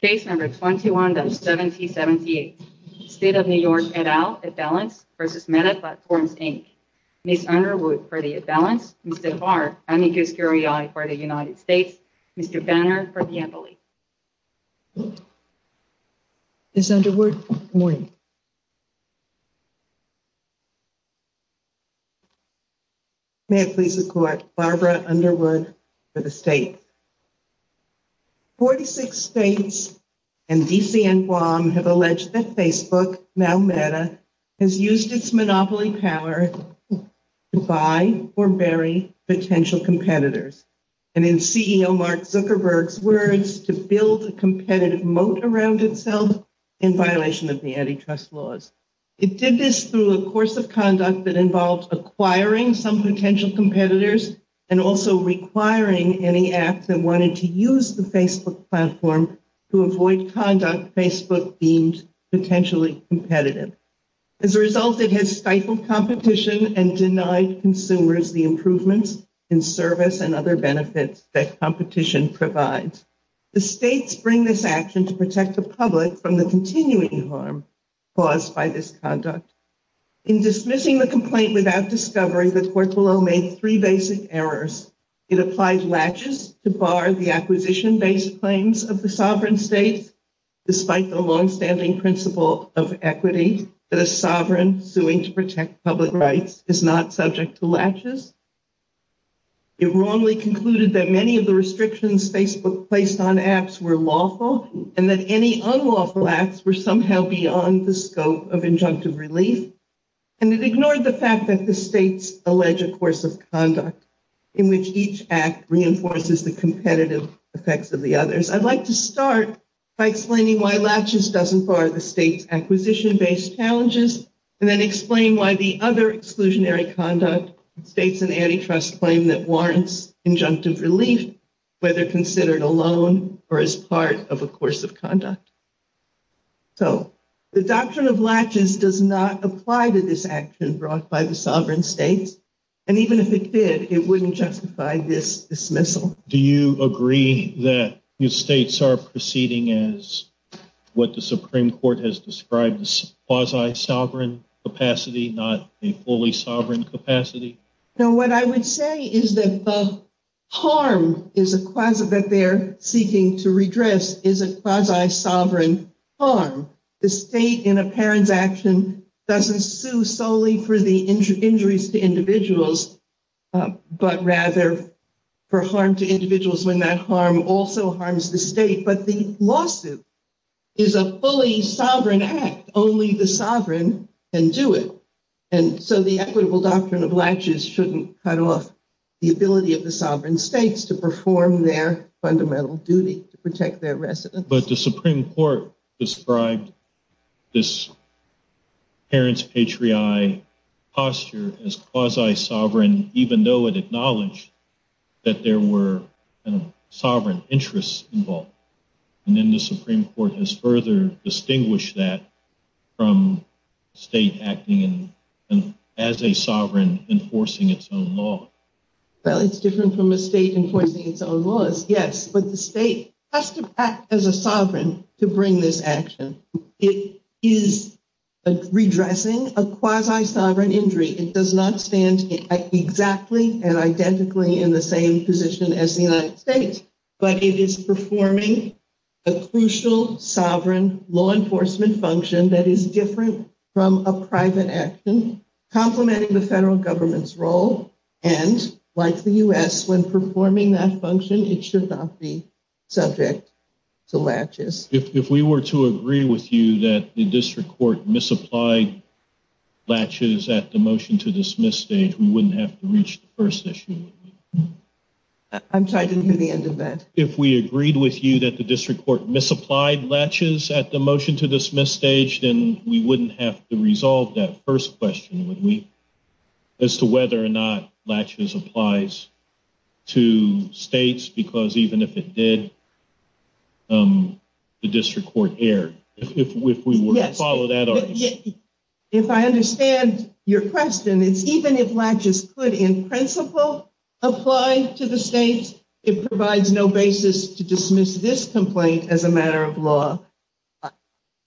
Case No. 21-7078, State of New York et al. imbalance v. Meta Platforms, Inc. Ms. Underwood for the imbalance, Mr. Barr, unequus curiae for the United States, Mr. Banner for the embolism. Ms. Underwood, good morning. May it please the Court, Barbara Underwood for the State. Forty-six states and D.C. and Guam have alleged that Facebook, now Meta, has used its monopoly power to buy or bury potential competitors, and in CEO Mark Zuckerberg's words, to build a competitive moat around itself in violation of the antitrust laws. It did this through a course of conduct that involved acquiring some potential competitors and also requiring any app that wanted to use the Facebook platform to avoid conduct Facebook deemed potentially competitive. As a result, it has stifled competition and denied consumers the improvements in service and other benefits that competition provides. The states bring this action to protect the public from the continuing harm caused by this conduct. In dismissing the complaint without discovery, the Court below made three basic errors. It applied latches to bar the acquisition-based claims of the sovereign states, despite the longstanding principle of equity, that a sovereign suing to protect public rights is not subject to latches. It wrongly concluded that many of the restrictions Facebook placed on apps were lawful and that any unlawful acts were somehow beyond the scope of injunctive relief, and it ignored the fact that the states allege a course of conduct in which each act reinforces the competitive effects of the others. I'd like to start by explaining why latches doesn't bar the states' acquisition-based challenges and then explain why the other exclusionary conduct states an antitrust claim that warrants injunctive relief, whether considered alone or as part of a course of conduct. So the doctrine of latches does not apply to this action brought by the sovereign states, and even if it did, it wouldn't justify this dismissal. Do you agree that the states are proceeding as what the Supreme Court has described as quasi-sovereign capacity, not a fully sovereign capacity? No, what I would say is that the harm that they're seeking to redress isn't quasi-sovereign harm. The state, in a parent's action, doesn't sue solely for the injuries to individuals, but rather for harm to individuals when that harm also harms the state. But the lawsuit is a fully sovereign act. Only the sovereign can do it. And so the equitable doctrine of latches shouldn't cut off the ability of the sovereign states to perform their fundamental duty to protect their residents. But the Supreme Court described this parent's patriotic posture as quasi-sovereign, even though it acknowledged that there were sovereign interests involved. And then the Supreme Court has further distinguished that from state acting as a sovereign enforcing its own law. Well, it's different from a state enforcing its own laws, yes. But the state has to act as a sovereign to bring this action. It is redressing a quasi-sovereign injury. It does not stand exactly and identically in the same position as the United States. But it is performing a crucial, sovereign law enforcement function that is different from a private action, complementing the federal government's role. And like the U.S., when performing that function, it should not be subject to latches. If we were to agree with you that the district court misapplied latches at the motion-to-dismiss stage, we wouldn't have to reach the first issue. I'm sorry, didn't hear the end of that. If we agreed with you that the district court misapplied latches at the motion-to-dismiss stage, then we wouldn't have to resolve that first question as to whether or not latches applies to states, because even if it did, the district court erred. If we were to follow that argument. If I understand your question, it's even if latches could, in principle, apply to the states, it provides no basis to dismiss this complaint as a matter of law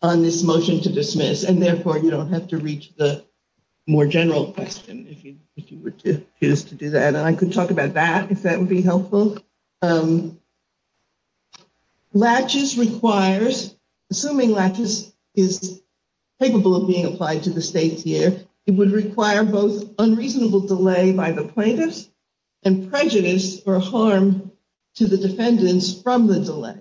on this motion-to-dismiss, and therefore you don't have to reach the more general question if you were to choose to do that. And I could talk about that, if that would be helpful. Latches requires, assuming latches is capable of being applied to the states here, it would require both unreasonable delay by the plaintiffs and prejudice or harm to the defendants from the delay.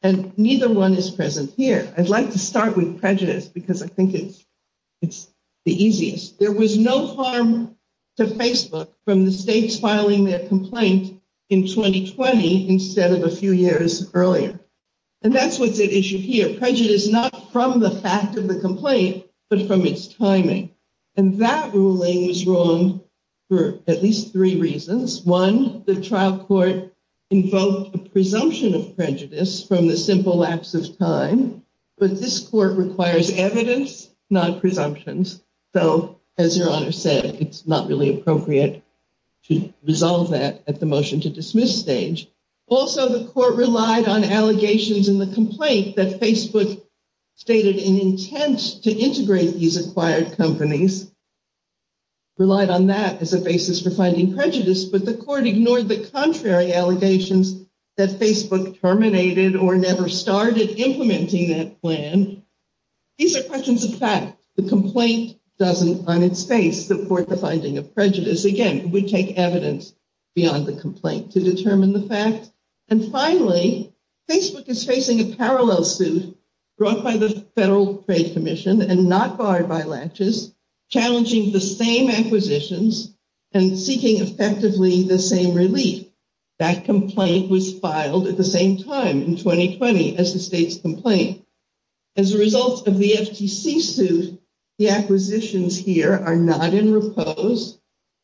And neither one is present here. I'd like to start with prejudice because I think it's the easiest. There was no harm to Facebook from the states filing their complaint in 2020 instead of a few years earlier. And that's what's at issue here. Prejudice not from the fact of the complaint, but from its timing. And that ruling was wrong for at least three reasons. One, the trial court invoked a presumption of prejudice from the simple lapse of time, but this court requires evidence, not presumptions. So, as Your Honor said, it's not really appropriate to resolve that at the motion-to-dismiss stage. Also, the court relied on allegations in the complaint that Facebook stated an intent to integrate these acquired companies, relied on that as a basis for finding prejudice, but the court ignored the contrary allegations that Facebook terminated or never started implementing that plan. These are questions of fact. The complaint doesn't, on its face, support the finding of prejudice. Again, we take evidence beyond the complaint to determine the fact. And finally, Facebook is facing a parallel suit brought by the Federal Trade Commission and not barred by laches, challenging the same acquisitions and seeking effectively the same relief. That complaint was filed at the same time in 2020 as the state's complaint. As a result of the FTC suit, the acquisitions here are not in repose.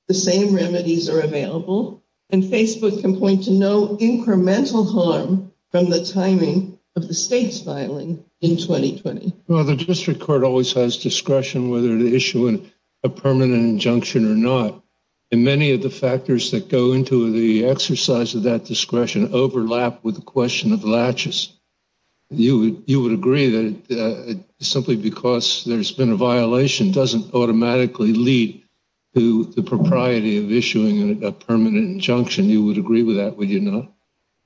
The same remedies are available. And Facebook can point to no incremental harm from the timing of the state's filing in 2020. Well, the district court always has discretion whether to issue a permanent injunction or not. And many of the factors that go into the exercise of that discretion overlap with the question of laches. You would agree that simply because there's been a violation doesn't automatically lead to the propriety of issuing a permanent injunction. You would agree with that, would you not?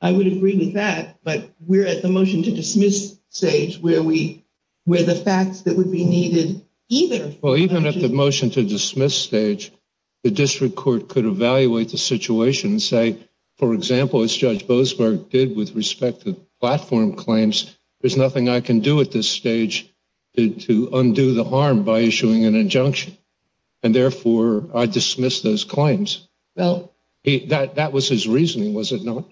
I would agree with that. But we're at the motion to dismiss stage where the facts that would be needed either. Well, even at the motion to dismiss stage, the district court could evaluate the situation and say, for example, as Judge Boasberg did with respect to platform claims, there's nothing I can do at this stage to undo the harm by issuing an injunction. And therefore, I dismiss those claims. Well, that was his reasoning, was it not?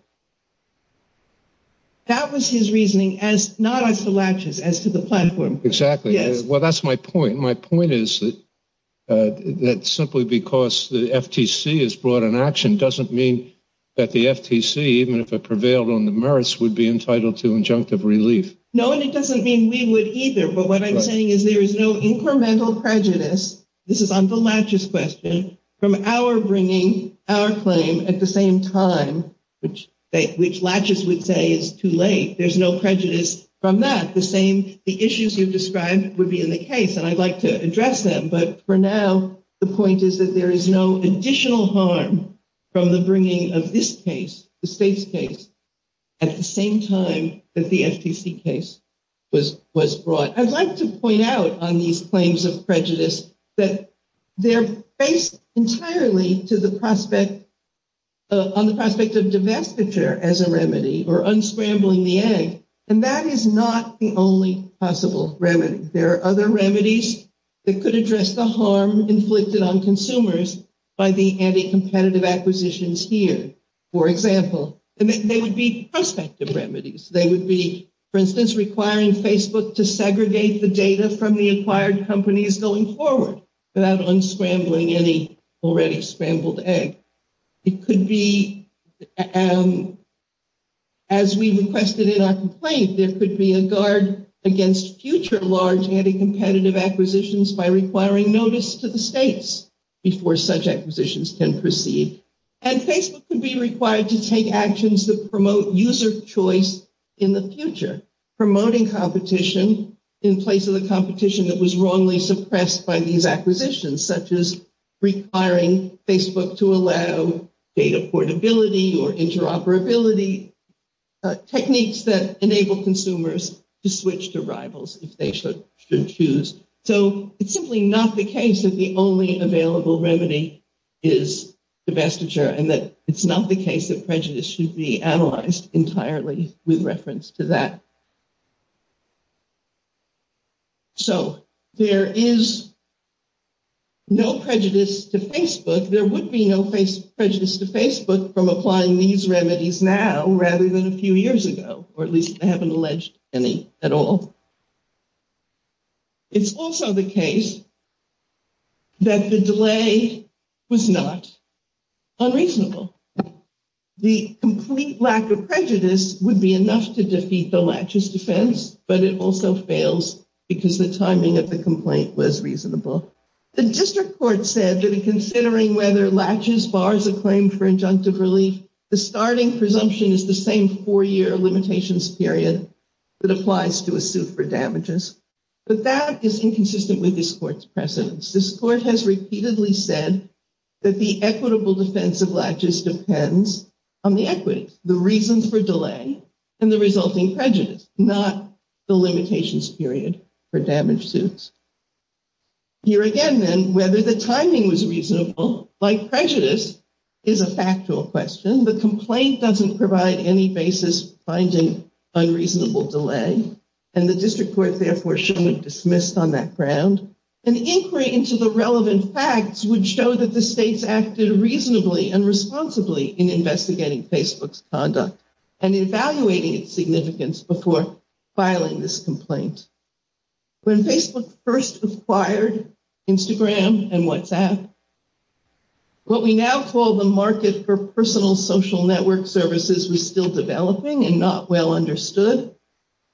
That was his reasoning, not as to laches, as to the platform. Exactly. Well, that's my point. My point is that simply because the FTC has brought an action doesn't mean that the FTC, even if it prevailed on the merits, would be entitled to injunctive relief. No, and it doesn't mean we would either. But what I'm saying is there is no incremental prejudice, this is on the laches question, from our bringing our claim at the same time, which laches would say is too late. There's no prejudice from that. The issues you've described would be in the case. And I'd like to address them. But for now, the point is that there is no additional harm from the bringing of this case, the state's case, at the same time that the FTC case was brought. I'd like to point out on these claims of prejudice that they're based entirely on the prospect of divestiture as a remedy or unscrambling the egg. And that is not the only possible remedy. There are other remedies that could address the harm inflicted on consumers by the anti-competitive acquisitions here. For example, they would be prospective remedies. They would be, for instance, requiring Facebook to segregate the data from the acquired companies going forward without unscrambling any already scrambled egg. It could be, as we requested in our complaint, there could be a guard against future large anti-competitive acquisitions by requiring notice to the states before such acquisitions can proceed. And Facebook could be required to take actions that promote user choice in the future, promoting competition in place of the competition that was wrongly suppressed by these acquisitions, such as requiring Facebook to allow data portability or interoperability, techniques that enable consumers to switch to rivals if they should choose. So it's simply not the case that the only available remedy is divestiture and that it's not the case that prejudice should be analyzed entirely with reference to that. So there is no prejudice to Facebook. There would be no prejudice to Facebook from applying these remedies now rather than a few years ago, or at least I haven't alleged any at all. It's also the case that the delay was not unreasonable. The complete lack of prejudice would be enough to defeat the Latches defense, but it also fails because the timing of the complaint was reasonable. The district court said that in considering whether Latches bars a claim for injunctive relief, the starting presumption is the same four-year limitations period that applies to a suit for damages. But that is inconsistent with this court's precedence. This court has repeatedly said that the equitable defense of Latches depends on the equity, the reasons for delay, and the resulting prejudice, not the limitations period for damaged suits. Here again, then, whether the timing was reasonable, like prejudice, is a factual question. The complaint doesn't provide any basis finding unreasonable delay, and the district court therefore shouldn't have dismissed on that ground. An inquiry into the relevant facts would show that the states acted reasonably and responsibly in investigating Facebook's conduct and evaluating its significance before filing this complaint. When Facebook first acquired Instagram and WhatsApp, what we now call the market for personal social network services was still developing and not well understood.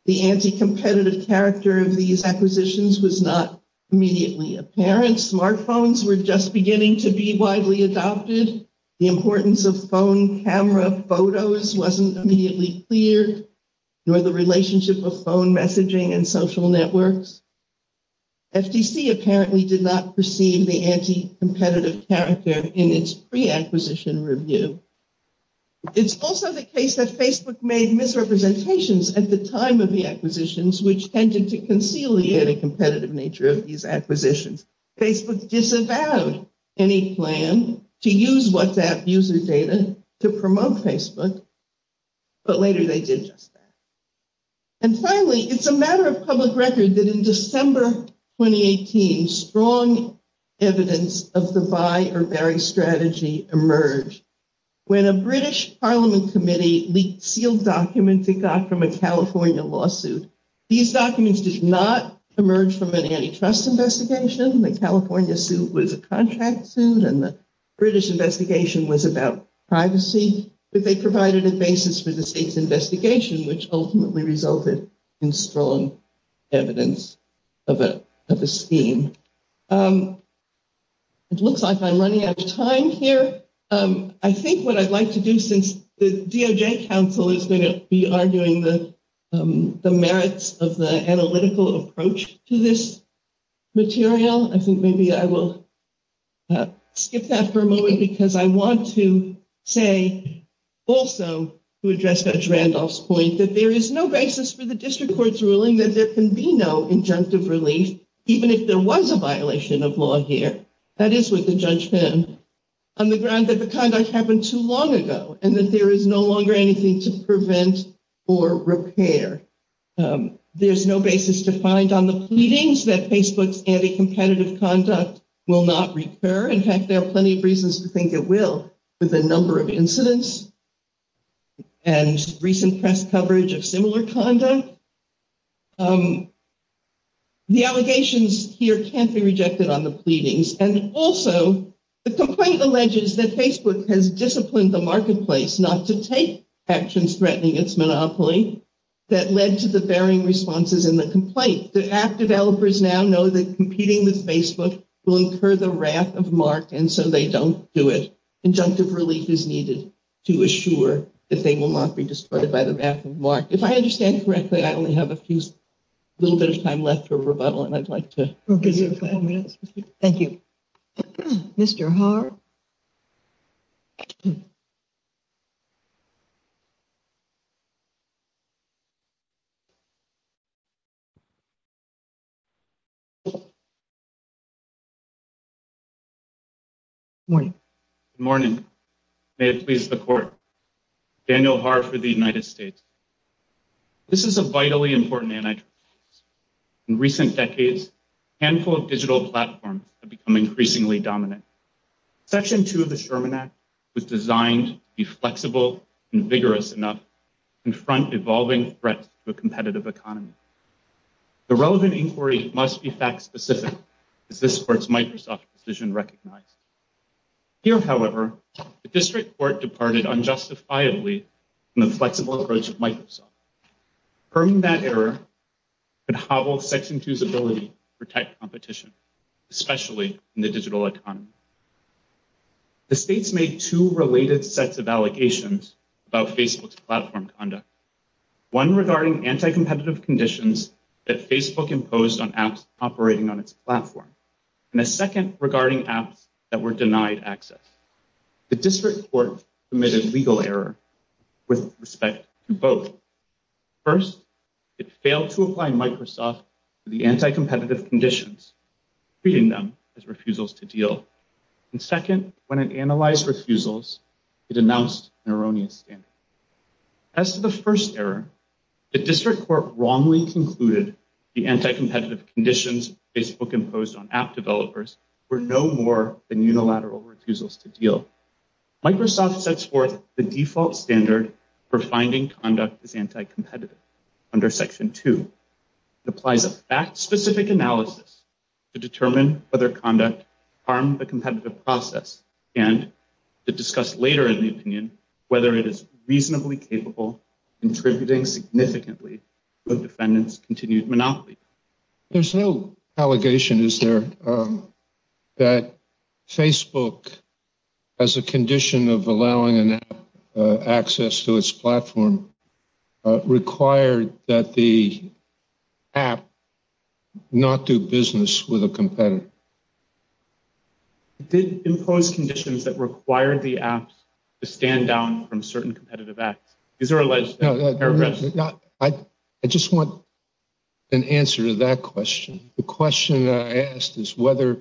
The anti-competitive character of these acquisitions was not immediately apparent. Smartphones were just beginning to be widely adopted. The importance of phone camera photos wasn't immediately clear, nor the relationship of phone messaging and social networks. FTC apparently did not perceive the anti-competitive character in its pre-acquisition review. It's also the case that Facebook made misrepresentations at the time of the acquisitions, which tended to conciliate a competitive nature of these acquisitions. Facebook disavowed any plan to use WhatsApp user data to promote Facebook, but later they did just that. And finally, it's a matter of public record that in December 2018, strong evidence of the buy or bury strategy emerged. When a British Parliament committee leaked sealed documents it got from a California lawsuit, these documents did not emerge from an antitrust investigation. The California suit was a contract suit and the British investigation was about privacy, which ultimately resulted in strong evidence of a scheme. It looks like I'm running out of time here. I think what I'd like to do since the DOJ council is going to be arguing the merits of the analytical approach to this material, I think maybe I will skip that for a moment because I want to say also to address Judge Randolph's point, that there is no basis for the district court's ruling that there can be no injunctive relief, even if there was a violation of law here. That is what the judge found on the ground that the conduct happened too long ago and that there is no longer anything to prevent or repair. There's no basis to find on the pleadings that Facebook's anti-competitive conduct will not recur. In fact, there are plenty of reasons to think it will with the number of incidents and recent press coverage of similar conduct. The allegations here can't be rejected on the pleadings. And also, the complaint alleges that Facebook has disciplined the marketplace not to take actions threatening its monopoly, that led to the varying responses in the complaint. The app developers now know that competing with Facebook will incur the wrath of Mark, and so they don't do it. Injunctive relief is needed to assure that they will not be distorted by the wrath of Mark. If I understand correctly, I only have a little bit of time left for rebuttal, and I'd like to give you five minutes. Thank you. Mr. Haar. Morning. Good morning. May it please the court. Daniel Haar for the United States. This is a vitally important anti-trust case. In recent decades, a handful of digital platforms have become increasingly dominant. Section 2 of the Sherman Act was designed to be flexible and vigorous enough to confront evolving threats to a competitive economy. The relevant inquiry must be fact-specific, as this supports Microsoft's decision recognized. Here, however, the district court departed unjustifiably from the flexible approach of Microsoft. Confirming that error could hobble Section 2's ability to protect competition, especially in the digital economy. The states made two related sets of allegations about Facebook's platform conduct, one regarding anti-competitive conditions that Facebook imposed on apps operating on its platform, and a second regarding apps that were denied access. The district court committed legal error with respect to both. First, it failed to apply Microsoft to the anti-competitive conditions, treating them as refusals to deal. And second, when it analyzed refusals, it announced an erroneous standard. As to the first error, the district court wrongly concluded the anti-competitive conditions Facebook imposed on app developers were no more than unilateral refusals to deal. Microsoft sets forth the default standard for finding conduct as anti-competitive under Section 2. It applies a fact-specific analysis to determine whether conduct harmed the competitive process, and to discuss later in the opinion whether it is reasonably capable, contributing significantly to the defendant's continued monopoly. There's no allegation, is there, that Facebook, as a condition of allowing an app access to its platform, required that the app not do business with a competitor? It did impose conditions that required the app to stand down from certain competitive apps. I just want an answer to that question. The question I asked is whether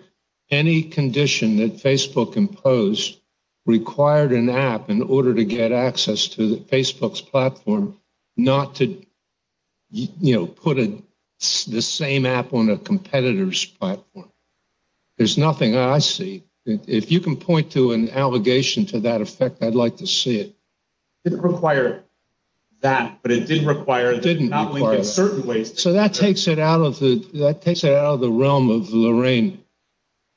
any condition that Facebook imposed required an app in order to get access to Facebook's platform not to put the same app on a competitor's platform. There's nothing I see. If you can point to an allegation to that effect, I'd like to see it. It didn't require that, but it did require that it not link in certain ways. So that takes it out of the realm of the Lorraine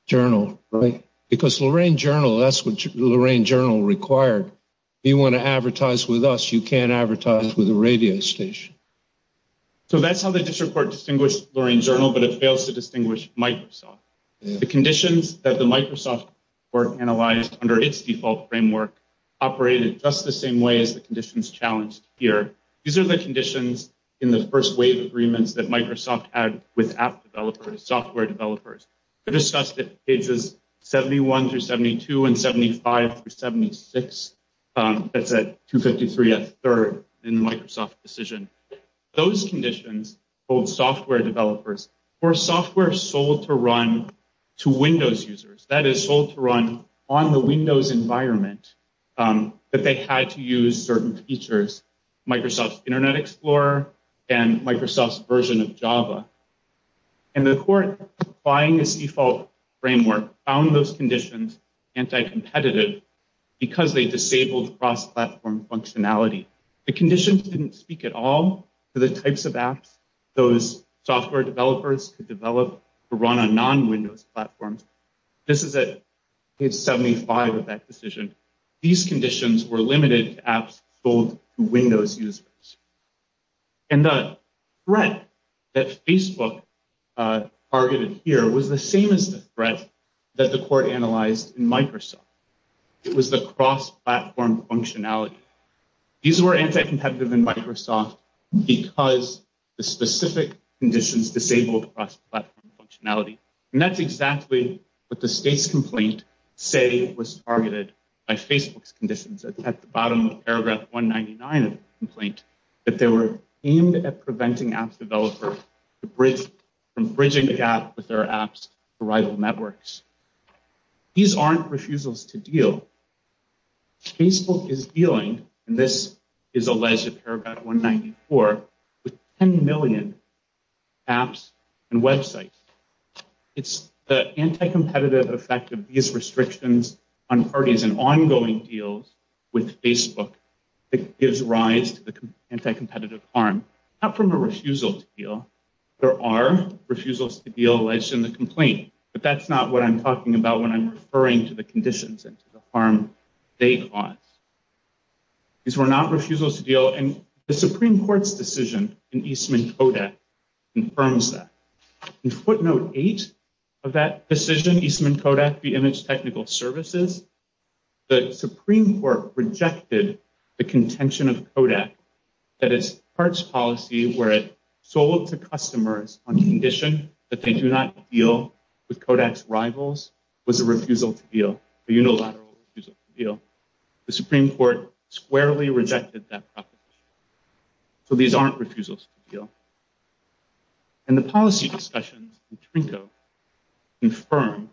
Journal, right? Because Lorraine Journal, that's what Lorraine Journal required. If you want to advertise with us, you can't advertise with a radio station. So that's how the district court distinguished Lorraine Journal, but it fails to distinguish Microsoft. The conditions that the Microsoft court analyzed under its default framework operated just the same way as the conditions challenged here. These are the conditions in the first wave agreements that Microsoft had with app developers, software developers. They discussed it in pages 71 through 72 and 75 through 76. That's at 253 at third in the Microsoft decision. Those conditions hold software developers for software sold to run to Windows users. That is sold to run on the Windows environment that they had to use certain features, Microsoft's Internet Explorer and Microsoft's version of Java. And the court, buying this default framework, found those conditions anti-competitive because they disabled cross-platform functionality. The conditions didn't speak at all to the types of apps those software developers could develop to run on non-Windows platforms. This is at page 75 of that decision. These conditions were limited to apps sold to Windows users. And the threat that Facebook targeted here was the same as the threat that the court analyzed in Microsoft. It was the cross-platform functionality. These were anti-competitive in Microsoft because the specific conditions disabled cross-platform functionality. And that's exactly what the state's complaint say was targeted by Facebook's conditions at the bottom of paragraph 199 of the complaint, that they were aimed at preventing app developers from bridging the gap with their apps' rival networks. These aren't refusals to deal. Facebook is dealing, and this is alleged at paragraph 194, with 10 million apps and websites. It's the anti-competitive effect of these restrictions on parties and ongoing deals with Facebook that gives rise to the anti-competitive harm, not from a refusal to deal. There are refusals to deal alleged in the complaint, but that's not what I'm talking about when I'm referring to the conditions and to the harm they cause. These were not refusals to deal, and the Supreme Court's decision in Eastman-Kodak confirms that. In footnote 8 of that decision, Eastman-Kodak v. Image Technical Services, the Supreme Court rejected the contention of Kodak that its parts policy, where it sold to customers on the condition that they do not deal with Kodak's rivals, was a refusal to deal, a unilateral refusal to deal. The Supreme Court squarely rejected that proposition. So these aren't refusals to deal. And the policy discussions in Trinco confirm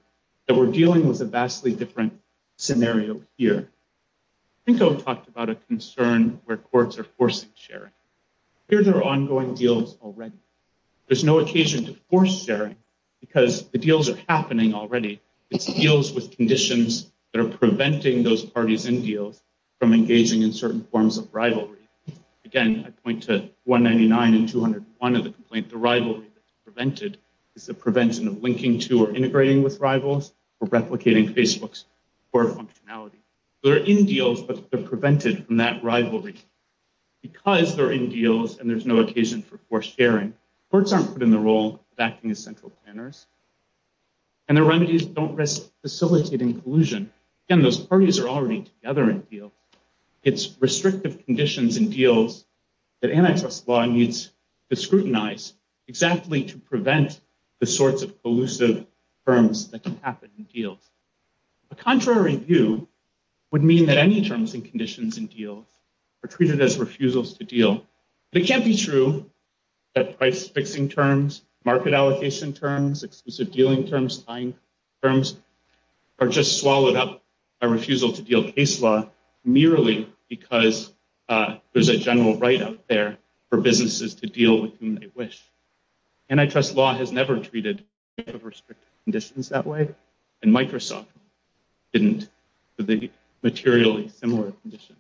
that we're dealing with a vastly different scenario here. Trinco talked about a concern where courts are forcing sharing. Here there are ongoing deals already. There's no occasion to force sharing because the deals are happening already. It's deals with conditions that are preventing those parties in deals from engaging in certain forms of rivalry. Again, I point to 199 and 201 of the complaint. The rivalry that's prevented is the prevention of linking to or integrating with rivals or replicating Facebook's core functionality. They're in deals, but they're prevented from that rivalry. Because they're in deals and there's no occasion for sharing, courts aren't put in the role of acting as central planners, and their remedies don't risk facilitating collusion. Again, those parties are already together in deals. It's restrictive conditions in deals that antitrust law needs to scrutinize exactly to prevent the sorts of collusive firms that can happen in deals. A contrary view would mean that any terms and conditions in deals are treated as refusals to deal. It can't be true that price-fixing terms, market allocation terms, exclusive dealing terms, tying terms are just swallowed up by refusal to deal case law merely because there's a general right out there for businesses to deal with whom they wish. Antitrust law has never treated restrictive conditions that way. And Microsoft didn't for the materially similar conditions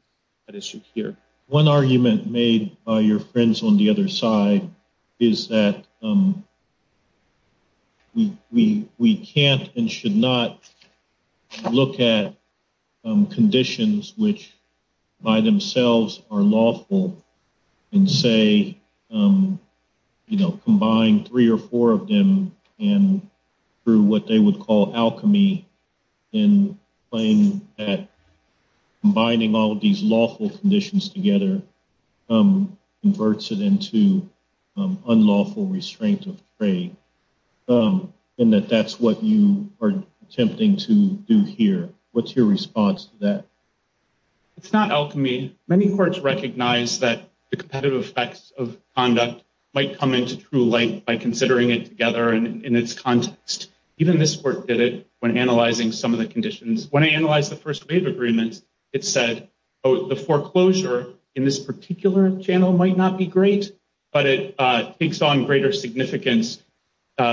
at issue here. One argument made by your friends on the other side is that we can't and should not look at conditions which by themselves are lawful and say, combine three or four of them through what they would call alchemy and claim that combining all of these lawful conditions together converts it into unlawful restraint of trade, and that that's what you are attempting to do here. What's your response to that? It's not alchemy. Many courts recognize that the competitive effects of conduct might come into true light by considering it together in its context. Even this court did it when analyzing some of the conditions. When I analyzed the first wave agreements, it said, oh, the foreclosure in this particular channel might not be great, but it takes on greater significance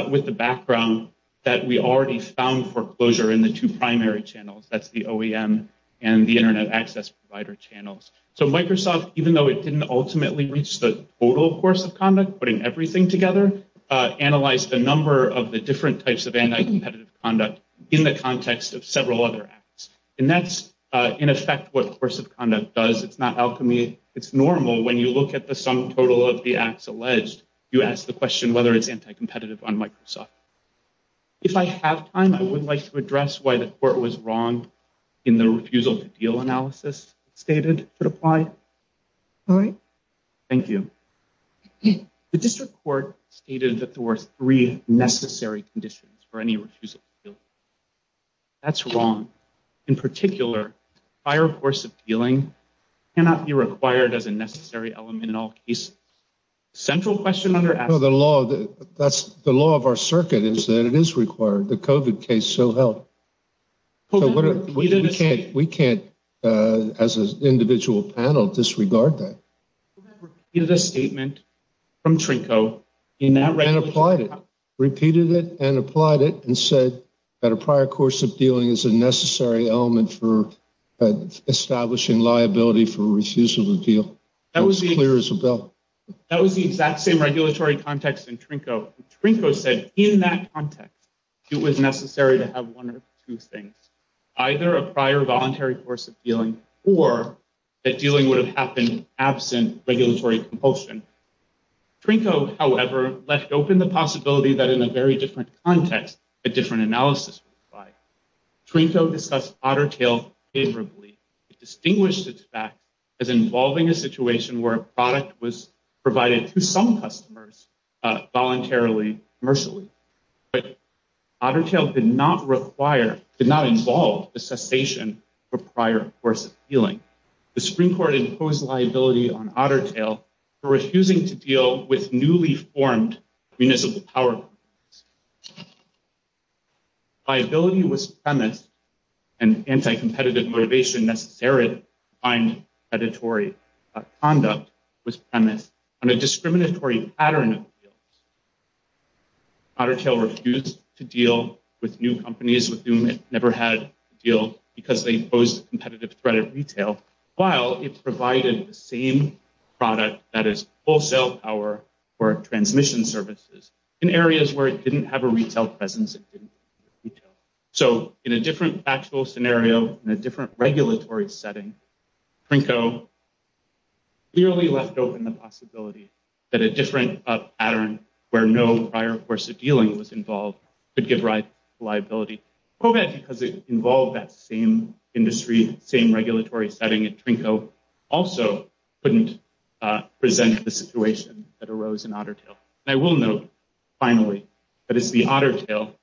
with the background that we already found foreclosure in the two primary channels, that's the OEM and the Internet access provider channels. So Microsoft, even though it didn't ultimately reach the total course of conduct, putting everything together, analyzed the number of the different types of anti-competitive conduct in the context of several other acts. And that's, in effect, what course of conduct does. It's not alchemy. It's normal when you look at the sum total of the acts alleged, you ask the question whether it's anti-competitive on Microsoft. If I have time, I would like to address why the court was wrong in the refusal to deal analysis stated to apply. All right. Thank you. The district court stated that there were three necessary conditions for any refusal to deal. That's wrong. In particular, a higher course of dealing cannot be required as a necessary element in all cases. Central question under the law. That's the law of our circuit is that it is required. The covid case. So help. We can't. We can't as an individual panel disregard that. It is a statement from Trinco in that right. And applied it, repeated it, and applied it and said that a prior course of dealing is a necessary element for establishing liability for refusal to deal. That was clear as a bell. That was the exact same regulatory context in Trinco. Trinco said in that context, it was necessary to have one or two things, either a prior voluntary course of dealing or that dealing would have happened absent regulatory compulsion. Trinco, however, left open the possibility that in a very different context, a different analysis by Trinco discuss otter tail favorably. Distinguish the fact as involving a situation where a product was provided to some customers voluntarily commercially, but otter tail did not require, did not involve the cessation for prior course of healing. The Supreme court imposed liability on otter tail for refusing to deal with newly formed municipal power. Viability was premise and anti-competitive motivation necessary to find predatory conduct was premise on a discriminatory pattern. Otter tail refused to deal with new companies with whom it never had a deal because they posed a competitive threat of retail while it provided the same product that is wholesale power for transmission services in areas where it didn't have a retail presence. It didn't retail. So in a different actual scenario in a different regulatory setting, Trinco clearly left open the possibility that a different pattern where no prior course of dealing was involved, but give right liability because it involved that same industry, same regulatory setting. And Trinco also couldn't present the situation that arose in otter tail. I will note finally, but it's the otter tail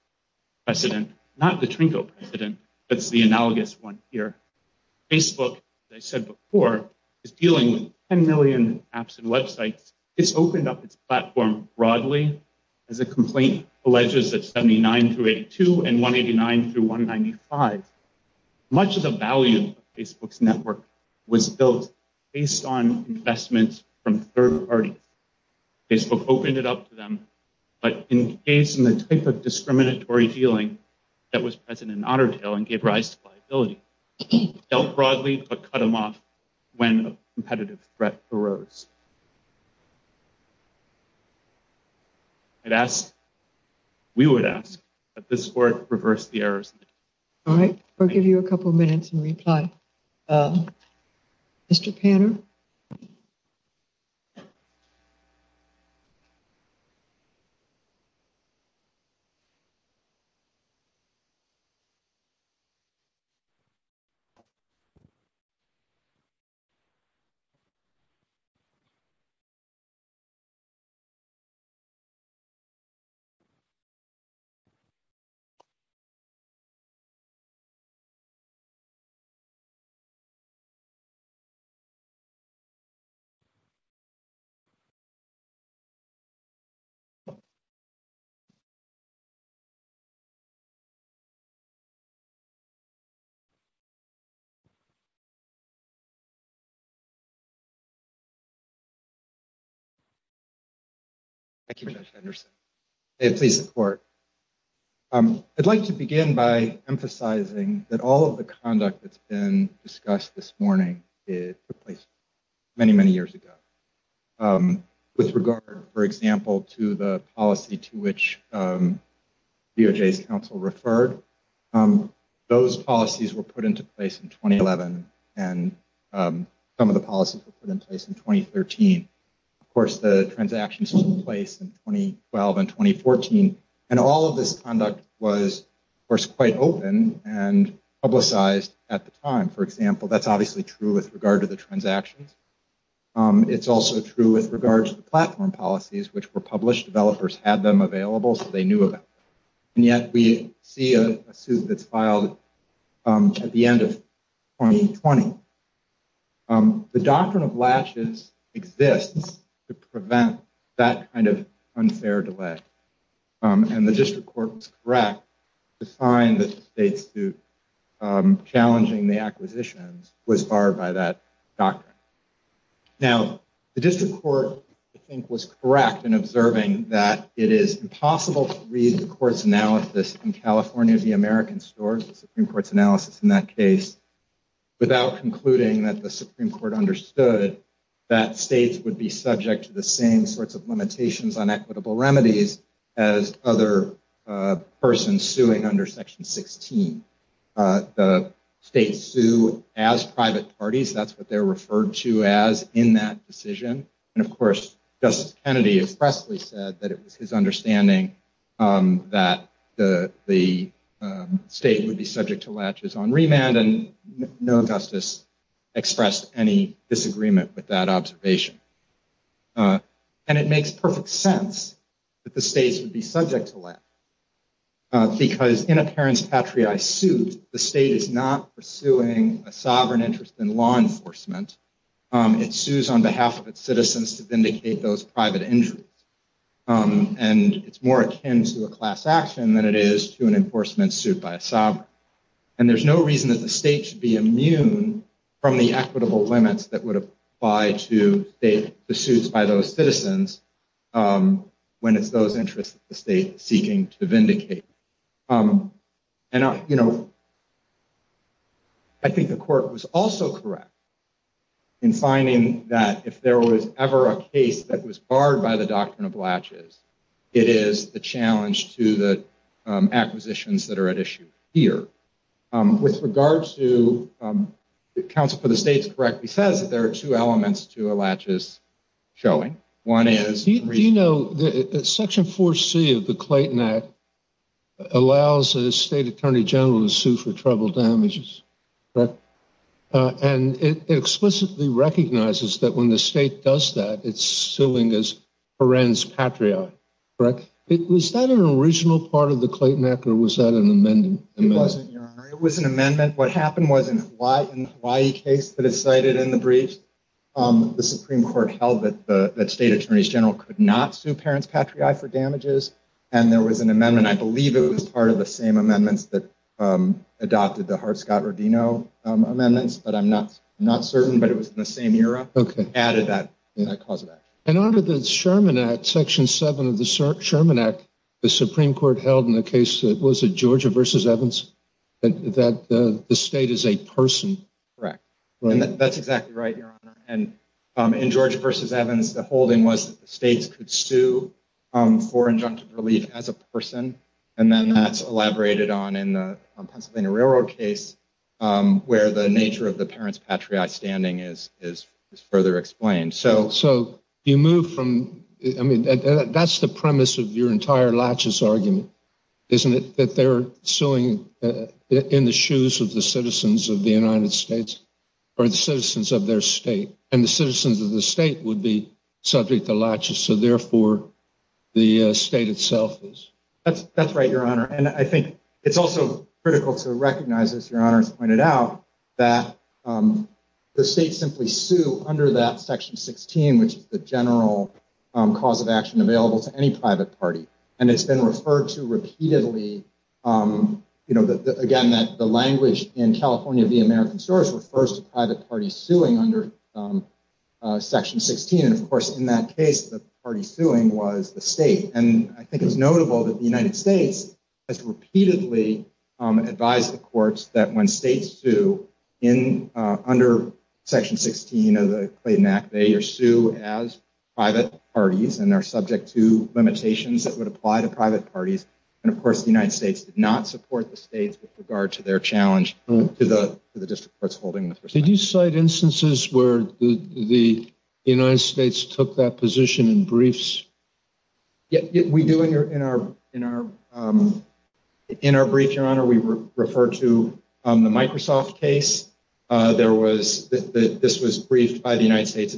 precedent, not the Trinco president. That's the analogous one here. Facebook, as I said before, is dealing with 10 million apps and websites. It's opened up its platform broadly as a complaint alleges at 79 through 82 and 189 through 195. Much of the value of Facebook's network was built based on investments from third parties. Facebook opened it up to them, but in case in the type of discriminatory feeling that was present in otter tail and gave rise to liability, dealt broadly but cut them off when a competitive threat arose. We would ask that this court reverse the errors. All right. We'll give you a couple of minutes and reply. Mr. Pan. Thank you, Judge Henderson. Please support. I'd like to begin by emphasizing that all of the conduct that's been discussed this morning took place many, many years ago. With regard, for example, to the policy to which DOJ's counsel referred, those policies were put into place in 2011, and some of the policies were put in place in 2013. Of course, the transactions took place in 2012 and 2014, and all of this conduct was, of course, quite open and publicized at the time. For example, that's obviously true with regard to the transactions. It's also true with regard to the platform policies, which were published. Developers had them available, so they knew about them. And yet we see a suit that's filed at the end of 2020. The doctrine of latches exists to prevent that kind of unfair delay, and the district court was correct to find that the state's suit challenging the acquisitions was barred by that doctrine. Now, the district court, I think, was correct in observing that it is impossible to read the court's analysis in California of the American stores, the Supreme Court's analysis in that case, without concluding that the Supreme Court understood that states would be subject to the same sorts of limitations on equitable remedies as other persons suing under Section 16. The states sue as private parties. That's what they're referred to as in that decision. And, of course, Justice Kennedy expressly said that it was his understanding that the state would be subject to latches on remand, and no justice expressed any disagreement with that observation. And it makes perfect sense that the states would be subject to latches, because in a parent's patriae suit, the state is not pursuing a sovereign interest in law enforcement. It sues on behalf of its citizens to vindicate those private injuries. And it's more akin to a class action than it is to an enforcement suit by a sovereign. And there's no reason that the state should be immune from the equitable limits that would apply to state pursuits by those citizens when it's those interests that the state is seeking to vindicate. And, you know, I think the court was also correct in finding that if there was ever a case that was barred by the doctrine of latches, it is the challenge to the acquisitions that are at issue here. With regards to the counsel for the states correctly says that there are two elements to a latches showing. One is, you know, Section 4C of the Clayton Act allows a state attorney general to sue for trouble damages. And it explicitly recognizes that when the state does that, it's suing as parents patriae. Correct. It was that an original part of the Clayton Act or was that an amendment? It wasn't. It was an amendment. What happened was in Hawaii, in the Hawaii case that is cited in the brief, the Supreme Court held that the state attorneys general could not sue parents patriae for damages. And there was an amendment. I believe it was part of the same amendments that adopted the Hart-Scott-Rodino amendments. But I'm not not certain. But it was the same era that added that cause of action. And under the Sherman Act, Section 7 of the Sherman Act, the Supreme Court held in the case that was a Georgia versus Evans that the state is a person. Correct. That's exactly right. And in Georgia versus Evans, the holding was that the states could sue for injunctive relief as a person. And then that's elaborated on in the Pennsylvania Railroad case where the nature of the parents patriae standing is is further explained. So so you move from I mean, that's the premise of your entire latches argument, isn't it? That they're suing in the shoes of the citizens of the United States or the citizens of their state. And the citizens of the state would be subject to latches. So therefore, the state itself is. That's right, Your Honor. And I think it's also critical to recognize, as Your Honor has pointed out, that the state simply sue under that Section 16, which is the general cause of action available to any private party. Again, that the language in California, the American source refers to private parties suing under Section 16. And of course, in that case, the party suing was the state. And I think it's notable that the United States has repeatedly advised the courts that when states sue in under Section 16 of the Clayton Act, they sue as private parties and are subject to limitations that would apply to private parties. And of course, the United States did not support the states with regard to their challenge to the district courts holding. Did you cite instances where the United States took that position in briefs? Yet we do in our in our in our brief, Your Honor, we refer to the Microsoft case. There was that this was briefed by the United States.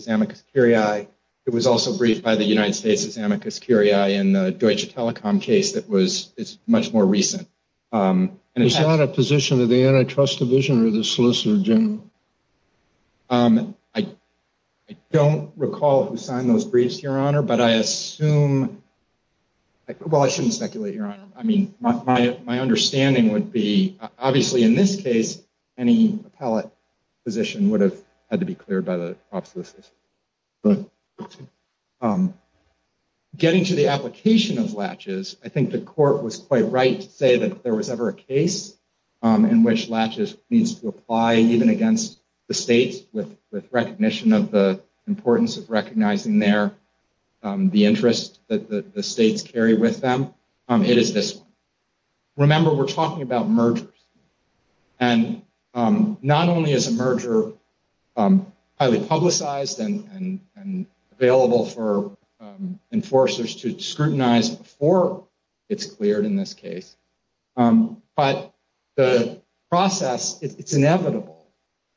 It was also briefed by the United States as amicus curiae in the Deutsche Telekom case that was much more recent. And it's not a position of the antitrust division or the solicitor general. I don't recall who signed those briefs, Your Honor, but I assume. Well, I shouldn't speculate here. I mean, my understanding would be obviously in this case, any appellate position would have had to be cleared by the obsolescence. But getting to the application of latches, I think the court was quite right to say that if there was ever a case in which latches needs to apply, even against the states with recognition of the importance of recognizing their the interest that the states carry with them. It is this. Remember, we're talking about mergers. And not only is a merger highly publicized and available for enforcers to scrutinize before it's cleared in this case, but the process, it's inevitable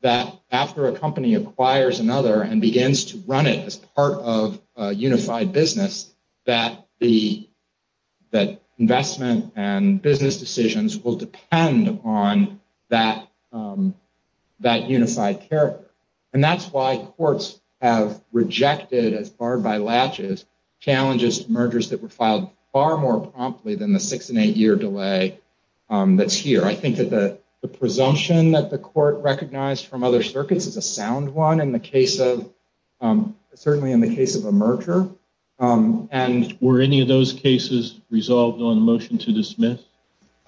that after a company acquires another and begins to run it as part of a unified business, that the investment and business decisions will depend on that unified character. And that's why courts have rejected as barred by latches challenges, mergers that were filed far more promptly than the six and eight year delay that's here. I think that the presumption that the court recognized from other circuits is a sound one. Certainly in the case of a merger. Were any of those cases resolved on a motion to dismiss?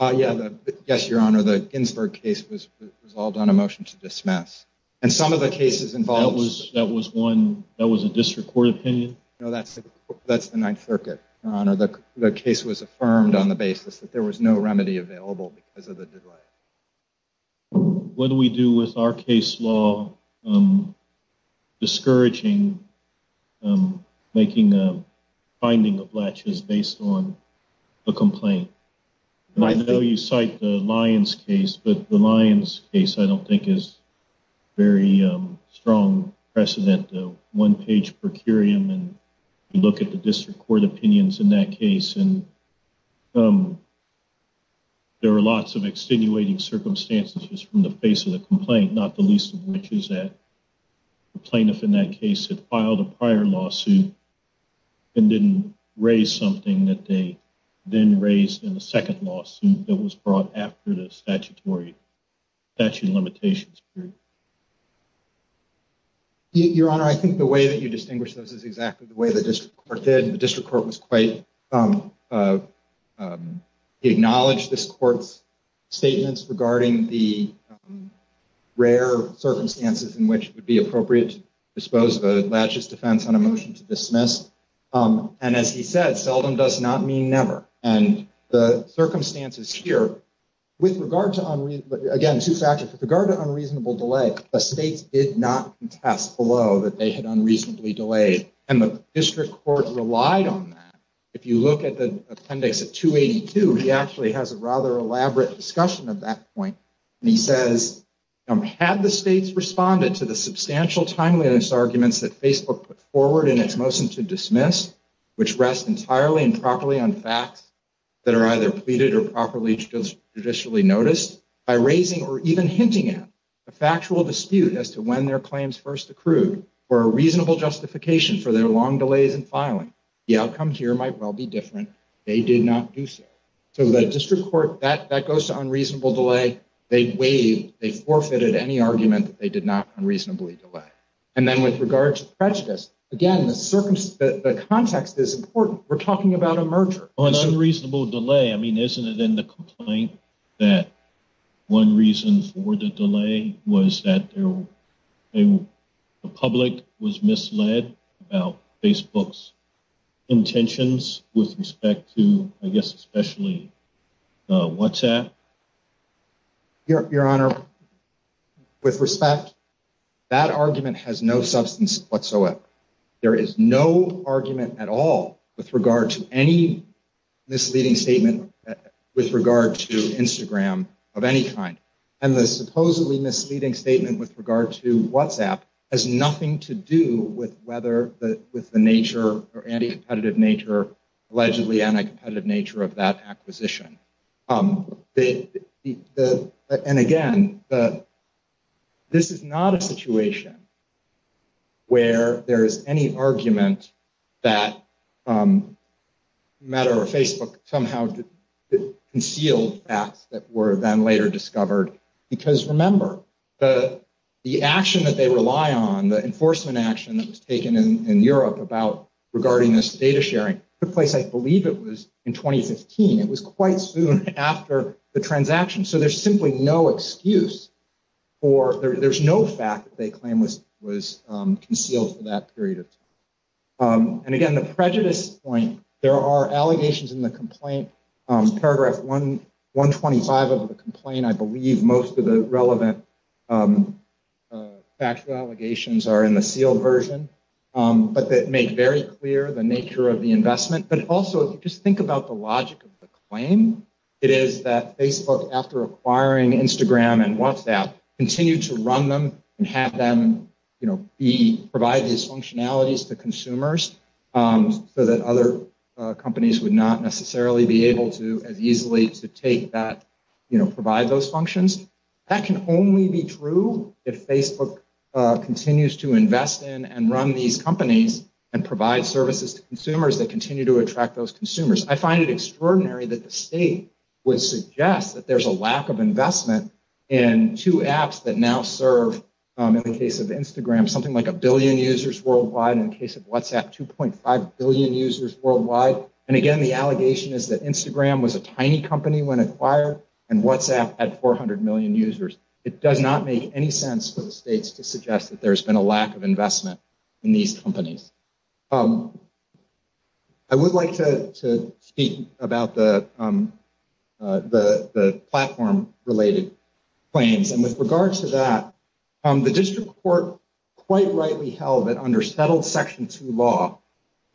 Yes, Your Honor. The Ginsburg case was resolved on a motion to dismiss. And some of the cases involved. That was a district court opinion? No, that's the Ninth Circuit, Your Honor. The case was affirmed on the basis that there was no remedy available because of the delay. What do we do with our case law? Discouraging making a finding of latches based on a complaint. I know you cite the Lions case, but the Lions case, I don't think, is very strong precedent. One page per curium. And you look at the district court opinions in that case. And there are lots of extenuating circumstances from the face of the complaint, not the least of which is that the plaintiff in that case had filed a prior lawsuit and didn't raise something that they then raised in the second lawsuit that was brought after the statutory statute limitations. Your Honor, I think the way that you distinguish those is exactly the way the district court did. He acknowledged this court's statements regarding the rare circumstances in which it would be appropriate to dispose of a latches defense on a motion to dismiss. And as he said, seldom does not mean never. And the circumstances here, with regard to unreasonable delay, the states did not contest below that they had unreasonably delayed. And the district court relied on that. If you look at the appendix at 282, he actually has a rather elaborate discussion of that point. And he says, had the states responded to the substantial timeliness arguments that Facebook put forward in its motion to dismiss, which rests entirely and properly on facts that are either pleaded or properly traditionally noticed, by raising or even hinting at a factual dispute as to when their claims first accrued were a reasonable justification for their long delays in filing. The outcome here might well be different. They did not do so. So the district court, that goes to unreasonable delay. They waived, they forfeited any argument that they did not unreasonably delay. And then with regard to prejudice, again, the context is important. We're talking about a merger. On unreasonable delay, I mean, isn't it in the complaint that one reason for the delay was that the public was misled about Facebook's intentions with respect to, I guess, especially WhatsApp? Your Honor, with respect, that argument has no substance whatsoever. There is no argument at all with regard to any misleading statement with regard to Instagram of any kind. And the supposedly misleading statement with regard to WhatsApp has nothing to do with whether the nature or anti-competitive nature, allegedly anti-competitive nature of that acquisition. And again, this is not a situation where there is any argument that the matter of Facebook somehow concealed facts that were then later discovered. Because remember, the action that they rely on, the enforcement action that was taken in Europe about regarding this data sharing took place, I believe it was in 2015. It was quite soon after the transaction. So there's simply no excuse for, there's no fact that they claim was concealed for that period of time. And again, the prejudice point, there are allegations in the complaint, paragraph 125 of the complaint, I believe most of the relevant factual allegations are in the sealed version, but that make very clear the nature of the investment. But also just think about the logic of the claim. It is that Facebook, after acquiring Instagram and WhatsApp, continued to run them and have them provide these functionalities to consumers so that other companies would not necessarily be able to as easily to take that, provide those functions. That can only be true if Facebook continues to invest in and run these companies and provide services to consumers that continue to attract those consumers. I find it extraordinary that the state would suggest that there's a lack of investment in two apps that now serve, in the case of Instagram, something like a billion users worldwide. In the case of WhatsApp, 2.5 billion users worldwide. So, and again, the allegation is that Instagram was a tiny company when acquired and WhatsApp had 400 million users. It does not make any sense for the states to suggest that there's been a lack of investment in these companies. I would like to speak about the platform related claims. And with regard to that, the district court quite rightly held that under settled Section 2 law,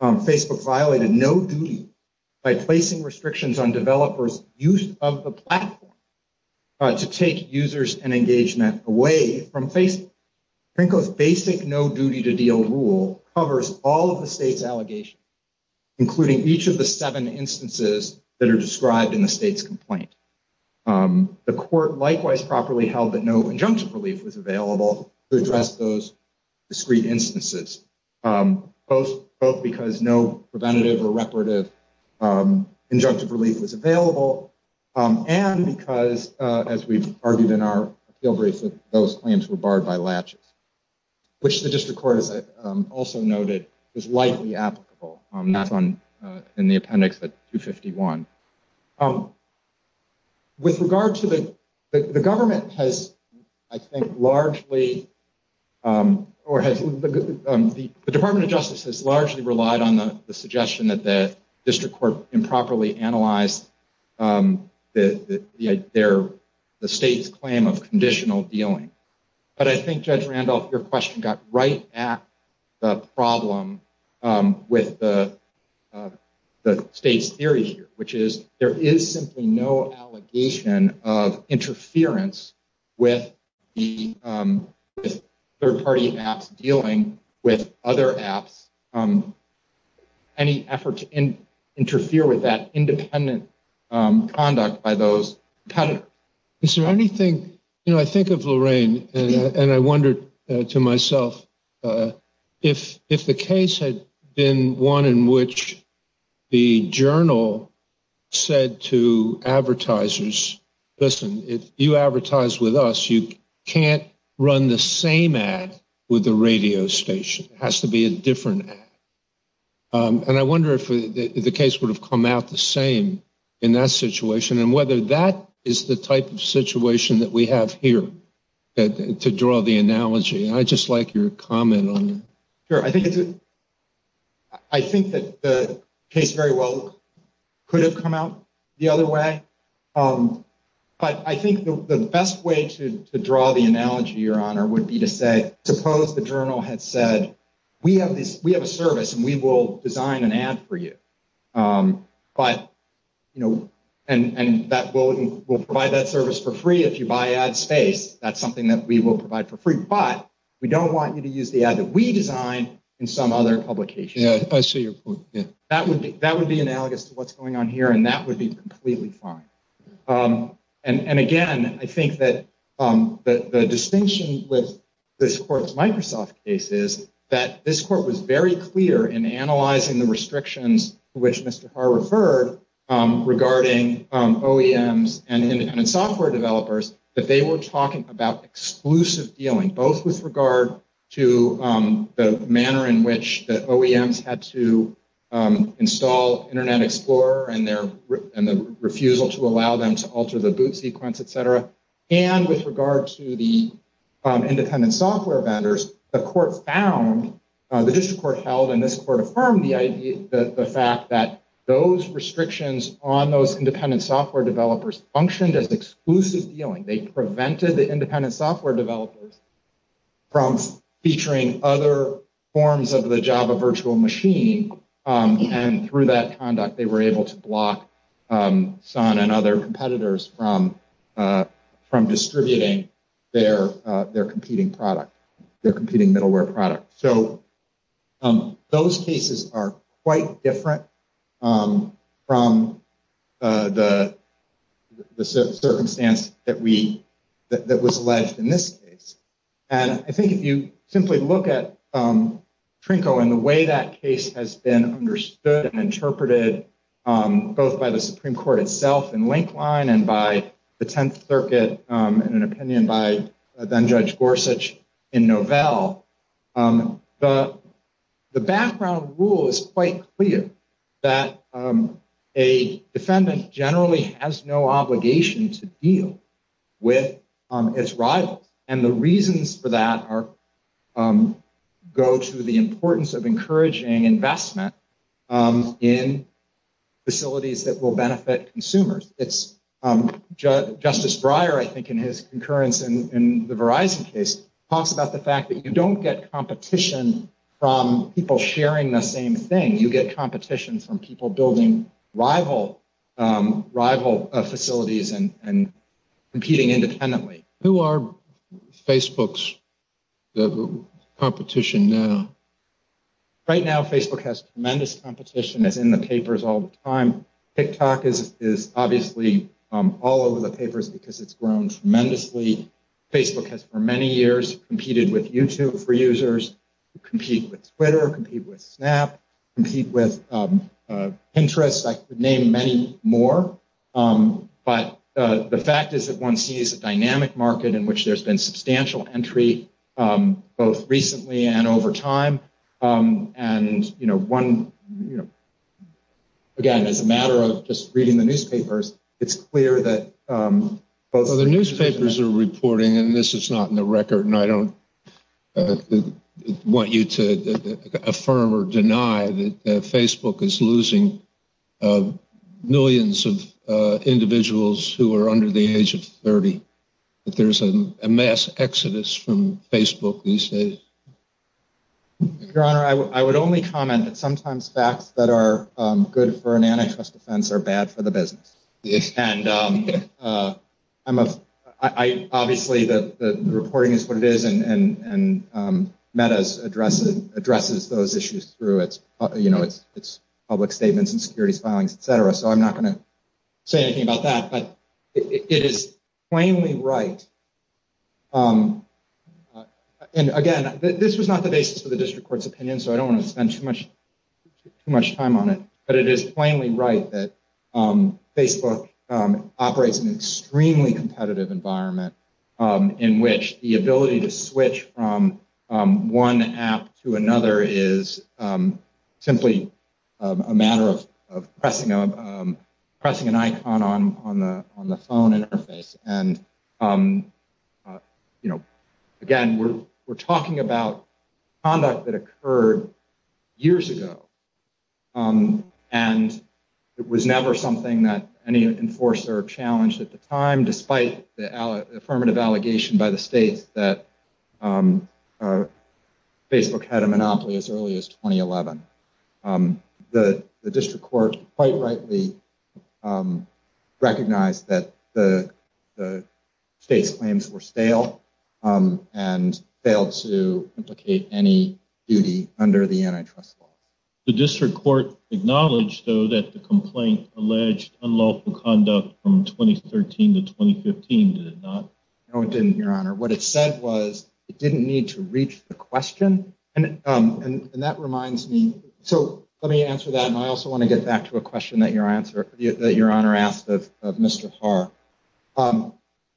Facebook violated no duty by placing restrictions on developers use of the platform to take users and engagement away from Facebook. Franco's basic no duty to deal rule covers all of the state's allegations, including each of the seven instances that are described in the state's complaint. The court likewise properly held that no injunctive relief was available to address those discrete instances, both because no preventative or reparative injunctive relief was available, and because, as we've argued in our appeal brief, that those claims were barred by latches, which the district court has also noted is likely applicable. That's in the appendix at 251. With regard to the, the government has, I think, largely, or has, the Department of Justice has largely relied on the suggestion that the district court improperly analyzed the state's claim of conditional dealing. But I think, Judge Randolph, your question got right at the problem with the state's theory here, which is there is simply no allegation of interference with the third party apps dealing with other apps. Any effort to interfere with that independent conduct by those. Is there anything you know, I think of Lorraine and I wondered to myself, if if the case had been one in which the journal said to advertisers, listen, if you advertise with us, you can't run the same ad with the radio station has to be a different. And I wonder if the case would have come out the same in that situation and whether that is the type of situation that we have here to draw the analogy. I just like your comment on. Sure. I think it's. I think that the case very well could have come out the other way. But I think the best way to draw the analogy, Your Honor, would be to say, suppose the journal had said, we have this, we have a service and we will design an ad for you. But, you know, and that will will provide that service for free. If you buy ad space, that's something that we will provide for free. But we don't want you to use the ad that we designed in some other publication. I see your point. That would be that would be analogous to what's going on here. And that would be completely fine. And again, I think that the distinction with this court's Microsoft case is that this court was very clear in analyzing the restrictions. Which Mr. Carr referred regarding OEMs and software developers that they were talking about exclusive dealing, both with regard to the manner in which the OEMs had to install Internet Explorer and their and the refusal to allow them to alter the boot sequence, et cetera. And with regard to the independent software vendors, the court found, the district court held and this court affirmed the idea, the fact that those restrictions on those independent software developers functioned as exclusive dealing. They prevented the independent software developers from featuring other forms of the Java virtual machine. And through that conduct, they were able to block Sun and other competitors from distributing their competing product, their competing middleware product. So those cases are quite different from the circumstance that we that was alleged in this case. And I think if you simply look at Trinko and the way that case has been understood and interpreted, both by the Supreme Court itself in Linkline and by the Tenth Circuit in an opinion by then Judge Gorsuch in Novell, the background rule is quite clear that a defendant generally has no obligation to deal with its rivals. And the reasons for that go to the importance of encouraging investment in facilities that will benefit consumers. It's Justice Breyer, I think, in his concurrence in the Verizon case, talks about the fact that you don't get competition from people sharing the same thing. You get competition from people building rival rival facilities and competing independently. Who are Facebook's competition now? Right now, Facebook has tremendous competition, as in the papers all the time. TikTok is obviously all over the papers because it's grown tremendously. Facebook has for many years competed with YouTube for users, compete with Twitter, compete with Snap, compete with Pinterest. I could name many more. But the fact is that one sees a dynamic market in which there's been substantial entry, both recently and over time. And, you know, one. Again, as a matter of just reading the newspapers, it's clear that the newspapers are reporting and this is not in the record. And I don't want you to affirm or deny that Facebook is losing millions of individuals who are under the age of 30, that there's a mass exodus from Facebook these days. Your Honor, I would only comment that sometimes facts that are good for an antitrust defense are bad for the business. And obviously the reporting is what it is. And MEDA addresses those issues through its public statements and securities filings, et cetera. So I'm not going to say anything about that. But it is plainly right. And again, this was not the basis of the district court's opinion, so I don't want to spend too much too much time on it. But it is plainly right that Facebook operates in an extremely competitive environment in which the ability to switch from one app to another is simply a matter of pressing an icon on the phone interface. And, you know, again, we're talking about conduct that occurred years ago. And it was never something that any enforcer challenged at the time, despite the affirmative allegation by the states that Facebook had a monopoly as early as 2011. The district court quite rightly recognized that the state's claims were stale and failed to implicate any duty under the antitrust law. The district court acknowledged, though, that the complaint alleged unlawful conduct from 2013 to 2015, did it not? No, it didn't, Your Honor. What it said was it didn't need to reach the question. And that reminds me. So let me answer that. And I also want to get back to a question that Your Honor asked of Mr. Haar.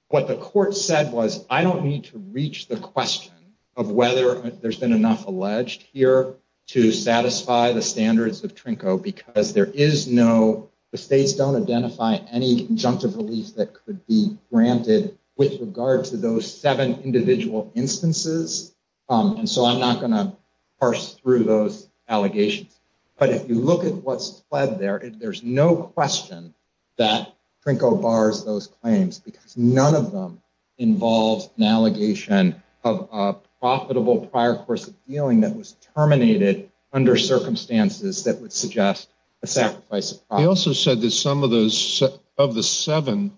What the court said was, I don't need to reach the question of whether there's been enough alleged here to satisfy the standards of TRNCO, because the states don't identify any injunctive relief that could be granted with regard to those seven individual instances. And so I'm not going to parse through those allegations. But if you look at what's fled there, there's no question that TRNCO bars those claims because none of them involves an allegation of a profitable prior course of dealing that was terminated under circumstances that would suggest a sacrifice. He also said that some of those of the seven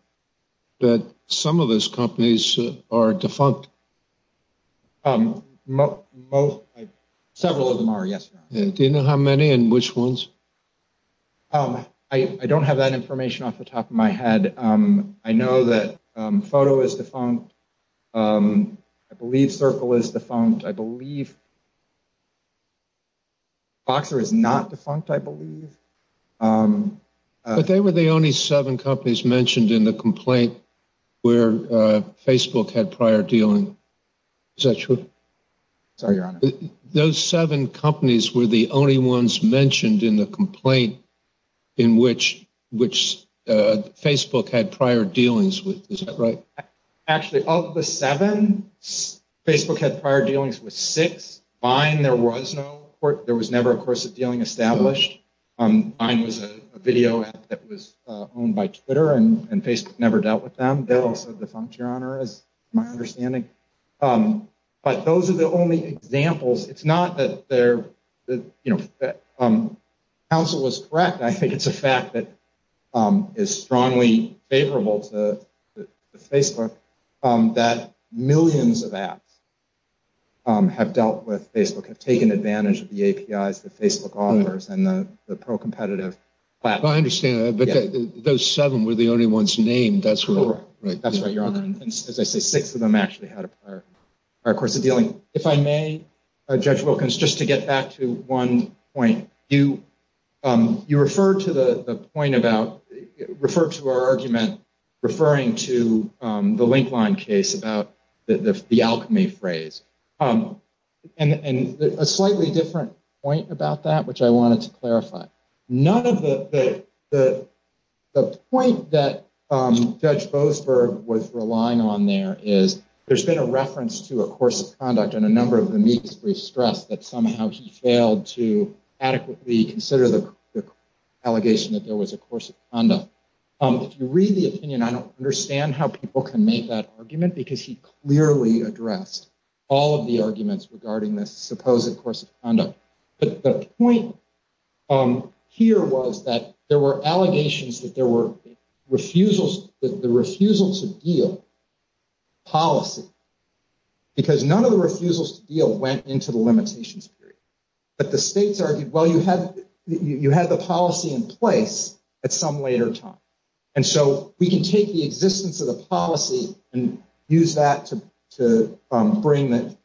that some of those companies are defunct. Most several of them are. Yes. Do you know how many and which ones? I don't have that information off the top of my head. I know that photo is defunct. I believe Circle is defunct. I believe. Boxer is not defunct, I believe. But they were the only seven companies mentioned in the complaint where Facebook had prior dealing. Is that true? Sorry, Your Honor. Those seven companies were the only ones mentioned in the complaint in which which Facebook had prior dealings with. Actually, of the seven, Facebook had prior dealings with six. There was no court. There was never a course of dealing established. Mine was a video that was owned by Twitter and Facebook never dealt with them. They also defunct, Your Honor, as my understanding. But those are the only examples. It's not that their counsel was correct. I think it's a fact that is strongly favorable to Facebook that millions of apps have dealt with. Facebook have taken advantage of the APIs that Facebook offers and the pro competitive platform. I understand that. But those seven were the only ones named. That's right. That's right, Your Honor. And as I say, six of them actually had a prior course of dealing. If I may, Judge Wilkins, just to get back to one point, you you referred to the point about referred to our argument referring to the link line case about the alchemy phrase. And a slightly different point about that, which I wanted to clarify. None of the the the point that Judge Boasberg was relying on there is there's been a reference to a course of conduct and a number of them. We stress that somehow he failed to adequately consider the allegation that there was a course of conduct. If you read the opinion, I don't understand how people can make that argument because he clearly addressed all of the arguments regarding this supposed course of conduct. But the point here was that there were allegations that there were refusals, the refusal to deal policy. Because none of the refusals to deal went into the limitations period. But the states argued, well, you had you had the policy in place at some later time. And so we can take the existence of the policy and use that to to bring the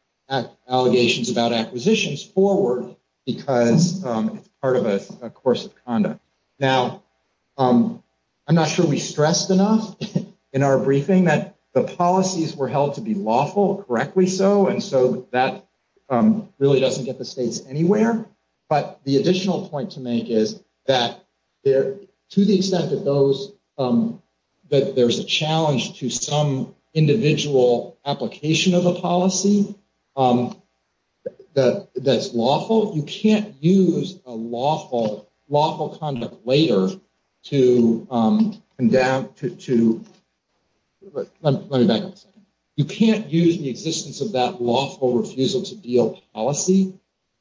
allegations about acquisitions forward because it's part of a course of conduct. Now, I'm not sure we stressed enough in our briefing that the policies were held to be lawful, correctly so. And so that really doesn't get the states anywhere. But the additional point to make is that there to the extent that those that there's a challenge to some individual application of a policy that that's lawful. You can't use a lawful conduct later to endow to. Let me back up a second. You can't use the existence of that lawful refusal to deal policy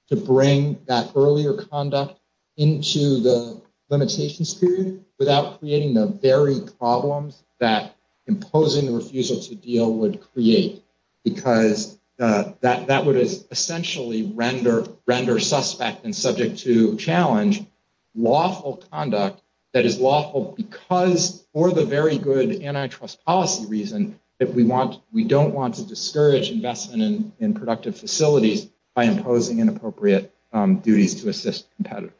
to bring that earlier conduct into the limitations period without creating the very problems that imposing the refusal to deal would create. Because that that would essentially render render suspect and subject to challenge lawful conduct that is lawful because or the very good antitrust policy reason that we want. We don't want to discourage investment in productive facilities by imposing inappropriate duties to assist competitors.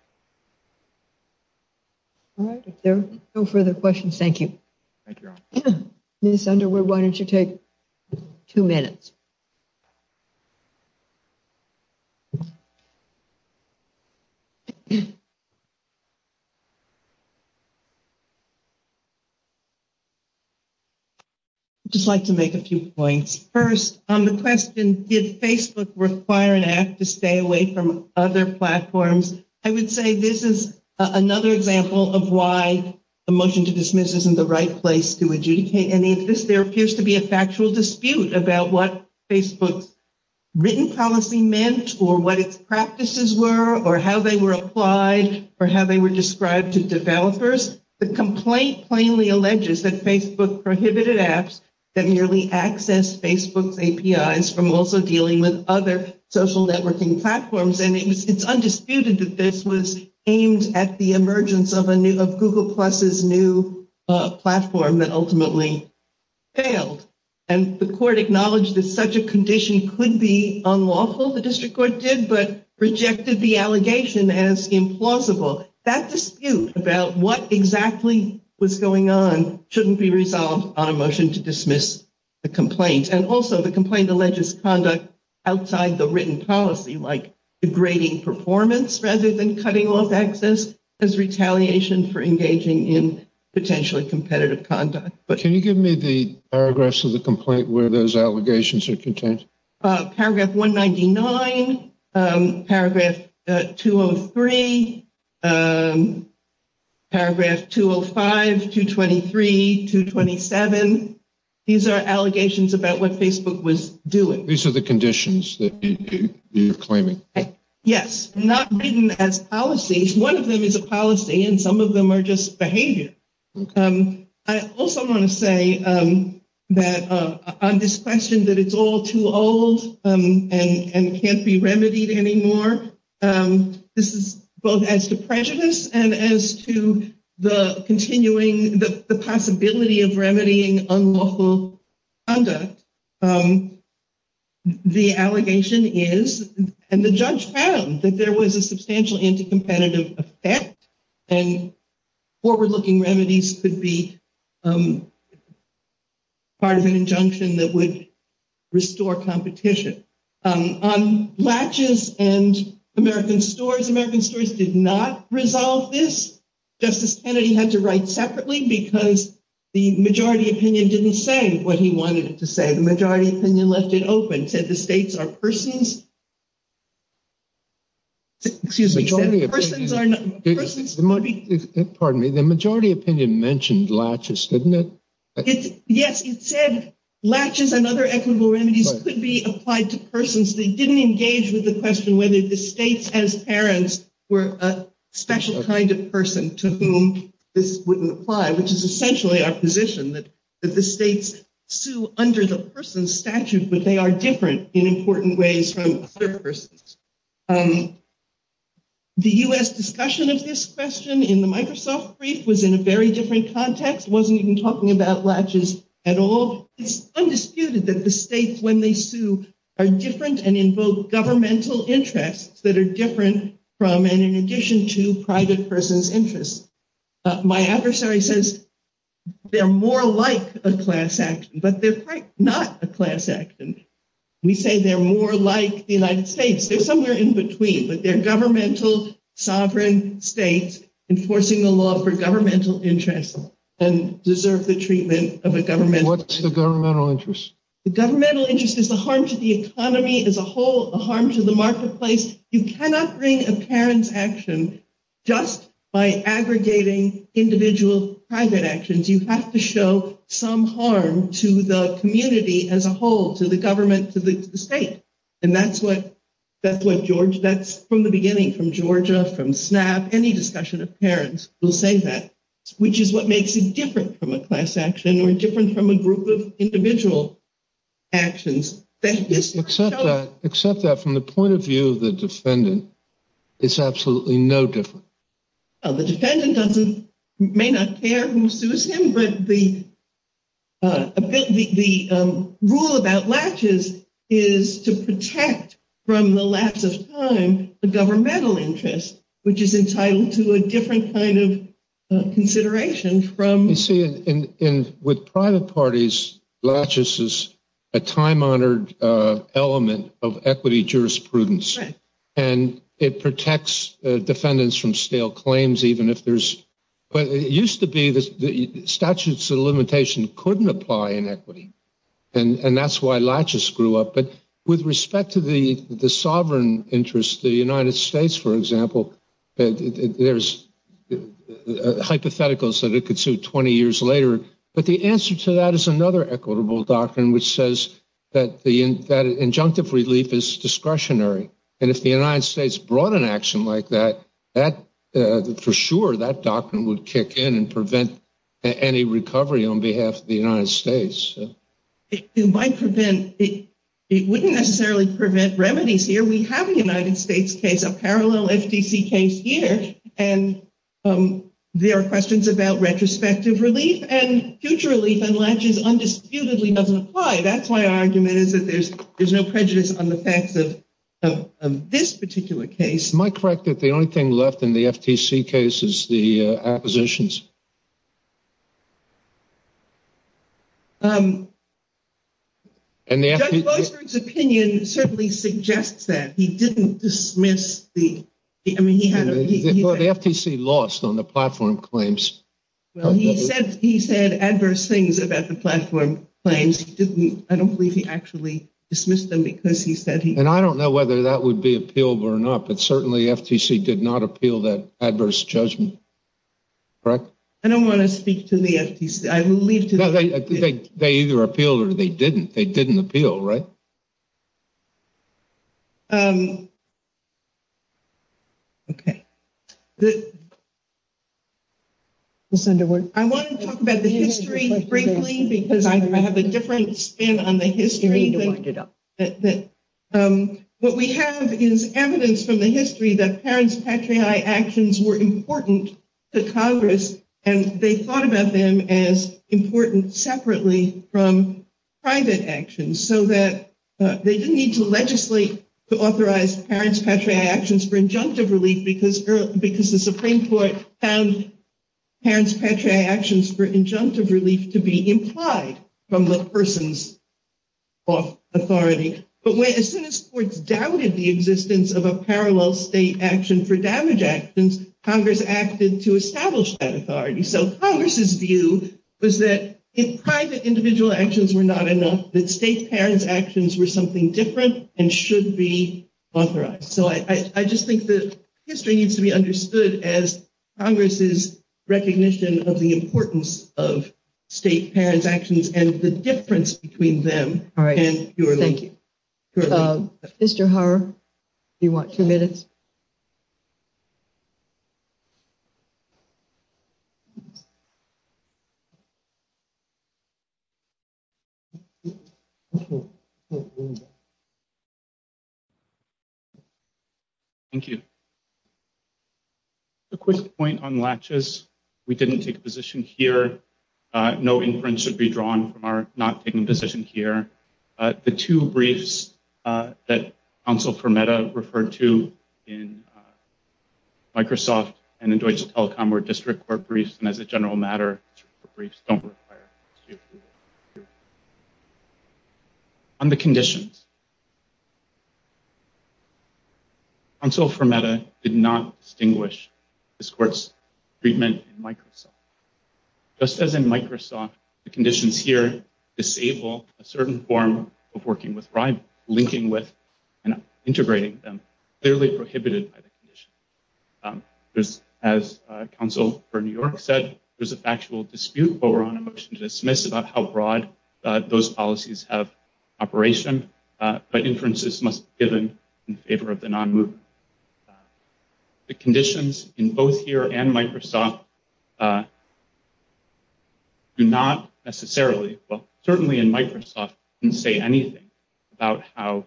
All right. No further questions. Thank you. Miss Underwood, why don't you take two minutes? Just like to make a few points first on the question. Did Facebook require an act to stay away from other platforms? I would say this is another example of why a motion to dismiss isn't the right place to adjudicate any of this. There appears to be a factual dispute about what Facebook's written policy meant or what its practices were or how they were applied or how they were described to developers. The complaint plainly alleges that Facebook prohibited apps that merely access Facebook's APIs from also dealing with other social networking platforms. And it's undisputed that this was aimed at the emergence of a new of Google Plus's new platform that ultimately failed. And the court acknowledged that such a condition could be unlawful. The district court did, but rejected the allegation as implausible that dispute about what exactly was going on shouldn't be resolved on a motion to dismiss the complaint. And also the complaint alleges conduct outside the written policy, like degrading performance rather than cutting off access as retaliation for engaging in potentially competitive conduct. But can you give me the paragraphs of the complaint where those allegations are contained? Paragraph 199, paragraph 203, paragraph 205, 223, 227. These are allegations about what Facebook was doing. These are the conditions that you're claiming. Yes, not written as policies. One of them is a policy and some of them are just behavior. I also want to say that on this question that it's all too old and can't be remedied anymore. This is both as to prejudice and as to the continuing the possibility of remedying unlawful conduct. The allegation is, and the judge found, that there was a substantial anti-competitive effect and forward-looking remedies could be part of an injunction that would restore competition. On latches and American stores, American stores did not resolve this. Justice Kennedy had to write separately because the majority opinion didn't say what he wanted it to say. The majority opinion left it open, said the states are persons. Excuse me. The majority opinion mentioned latches, didn't it? Yes, it said latches and other equitable remedies could be applied to persons. They didn't engage with the question whether the states as parents were a special kind of person to whom this wouldn't apply, which is essentially our position that the states sue under the person statute, but they are different in important ways from other persons. The U.S. discussion of this question in the Microsoft brief was in a very different context. It wasn't even talking about latches at all. It's undisputed that the states, when they sue, are different and invoke governmental interests that are different from and in addition to private persons' interests. My adversary says they're more like a class action, but they're not a class action. We say they're more like the United States. They're somewhere in between, but they're governmental, sovereign states enforcing the law for governmental interests and deserve the treatment of a governmental interest. What's the governmental interest? The governmental interest is the harm to the economy as a whole, the harm to the marketplace. You cannot bring a parent's action just by aggregating individual private actions. You have to show some harm to the community as a whole, to the government, to the state. And that's what George, that's from the beginning, from Georgia, from SNAP, any discussion of parents will say that, which is what makes it different from a class action or different from a group of individual actions. Except that from the point of view of the defendant, it's absolutely no different. The defendant may not care who sues him, but the rule about Latches is to protect from the lapse of time the governmental interest, which is entitled to a different kind of consideration from. You see, with private parties, Latches is a time honored element of equity jurisprudence. And it protects defendants from stale claims, even if there's, but it used to be the statutes of limitation couldn't apply in equity. And that's why Latches grew up. But with respect to the sovereign interest, the United States, for example, there's hypotheticals that it could sue 20 years later. But the answer to that is another equitable doctrine, which says that the injunctive relief is discretionary. And if the United States brought an action like that, that for sure, that doctrine would kick in and prevent any recovery on behalf of the United States. It might prevent it. It wouldn't necessarily prevent remedies here. We have a United States case, a parallel FTC case here. And there are questions about retrospective relief and future relief and Latches undisputedly doesn't apply. That's why our argument is that there's there's no prejudice on the facts of this particular case. Am I correct that the only thing left in the FTC case is the acquisitions? And the judge's opinion certainly suggests that he didn't dismiss the I mean, he had the FTC lost on the platform claims. Well, he said he said adverse things about the platform claims. He didn't. I don't believe he actually dismissed them because he said he and I don't know whether that would be appealable or not. But certainly FTC did not appeal that adverse judgment. Correct. I don't want to speak to the FTC. I believe they either appealed or they didn't. They didn't appeal. Right. OK. This under what I want to talk about the history, frankly, because I have a different spin on the history. What we have is evidence from the history that parents' patriae actions were important to Congress. And they thought about them as important separately from private actions so that they didn't need to legislate to authorize parents' patriae actions for injunctive relief. Because the Supreme Court found parents' patriae actions for injunctive relief to be implied from the person's authority. But as soon as courts doubted the existence of a parallel state action for damage actions, Congress acted to establish that authority. So Congress's view was that if private individual actions were not enough, that state parents' actions were something different and should be authorized. So I just think that history needs to be understood as Congress's recognition of the importance of state parents' actions and the difference between them. All right. Thank you. Mr. Hauer, you want two minutes? Thank you. A quick point on latches. We didn't take a position here. No inference should be drawn from our not taking a position here. The two briefs that counsel Fermetta referred to in Microsoft and in Deutsche Telekom were district court briefs. And as a general matter, district court briefs don't require. On the conditions. Counsel Fermetta did not distinguish this court's treatment in Microsoft. Just as in Microsoft, the conditions here disable a certain form of working with, linking with and integrating them, clearly prohibited by the condition. As counsel for New York said, there's a factual dispute over on a motion to dismiss about how broad those policies have operation. But inferences must be given in favor of the non-movement. The conditions in both here and Microsoft do not necessarily. Well, certainly in Microsoft and say anything about how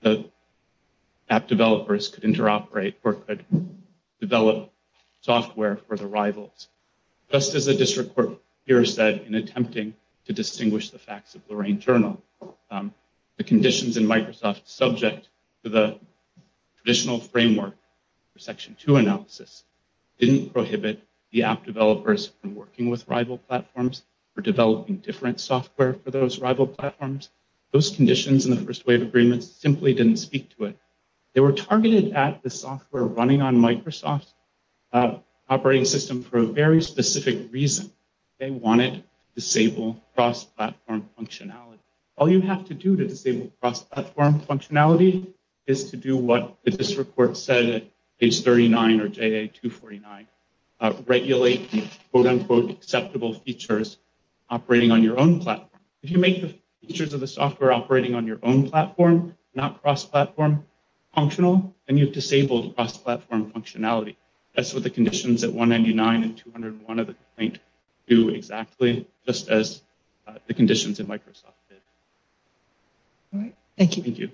the app developers could interoperate or develop software for the rivals. Just as a district court here said in attempting to distinguish the facts of the rain journal, the conditions in Microsoft subject to the additional framework. Section two analysis didn't prohibit the app developers from working with rival platforms for developing different software for those rival platforms. Those conditions in the first wave agreements simply didn't speak to it. They were targeted at the software running on Microsoft operating system for a very specific reason. They wanted to disable cross-platform functionality. All you have to do to disable cross-platform functionality is to do what the district court said is thirty nine or two forty nine. Regulate quote unquote acceptable features operating on your own platform. If you make the features of the software operating on your own platform, not cross-platform functional and you've disabled cross-platform functionality. That's what the conditions at one ninety nine and two hundred one of the paint do exactly just as the conditions in Microsoft. All right. Thank you. Thank you.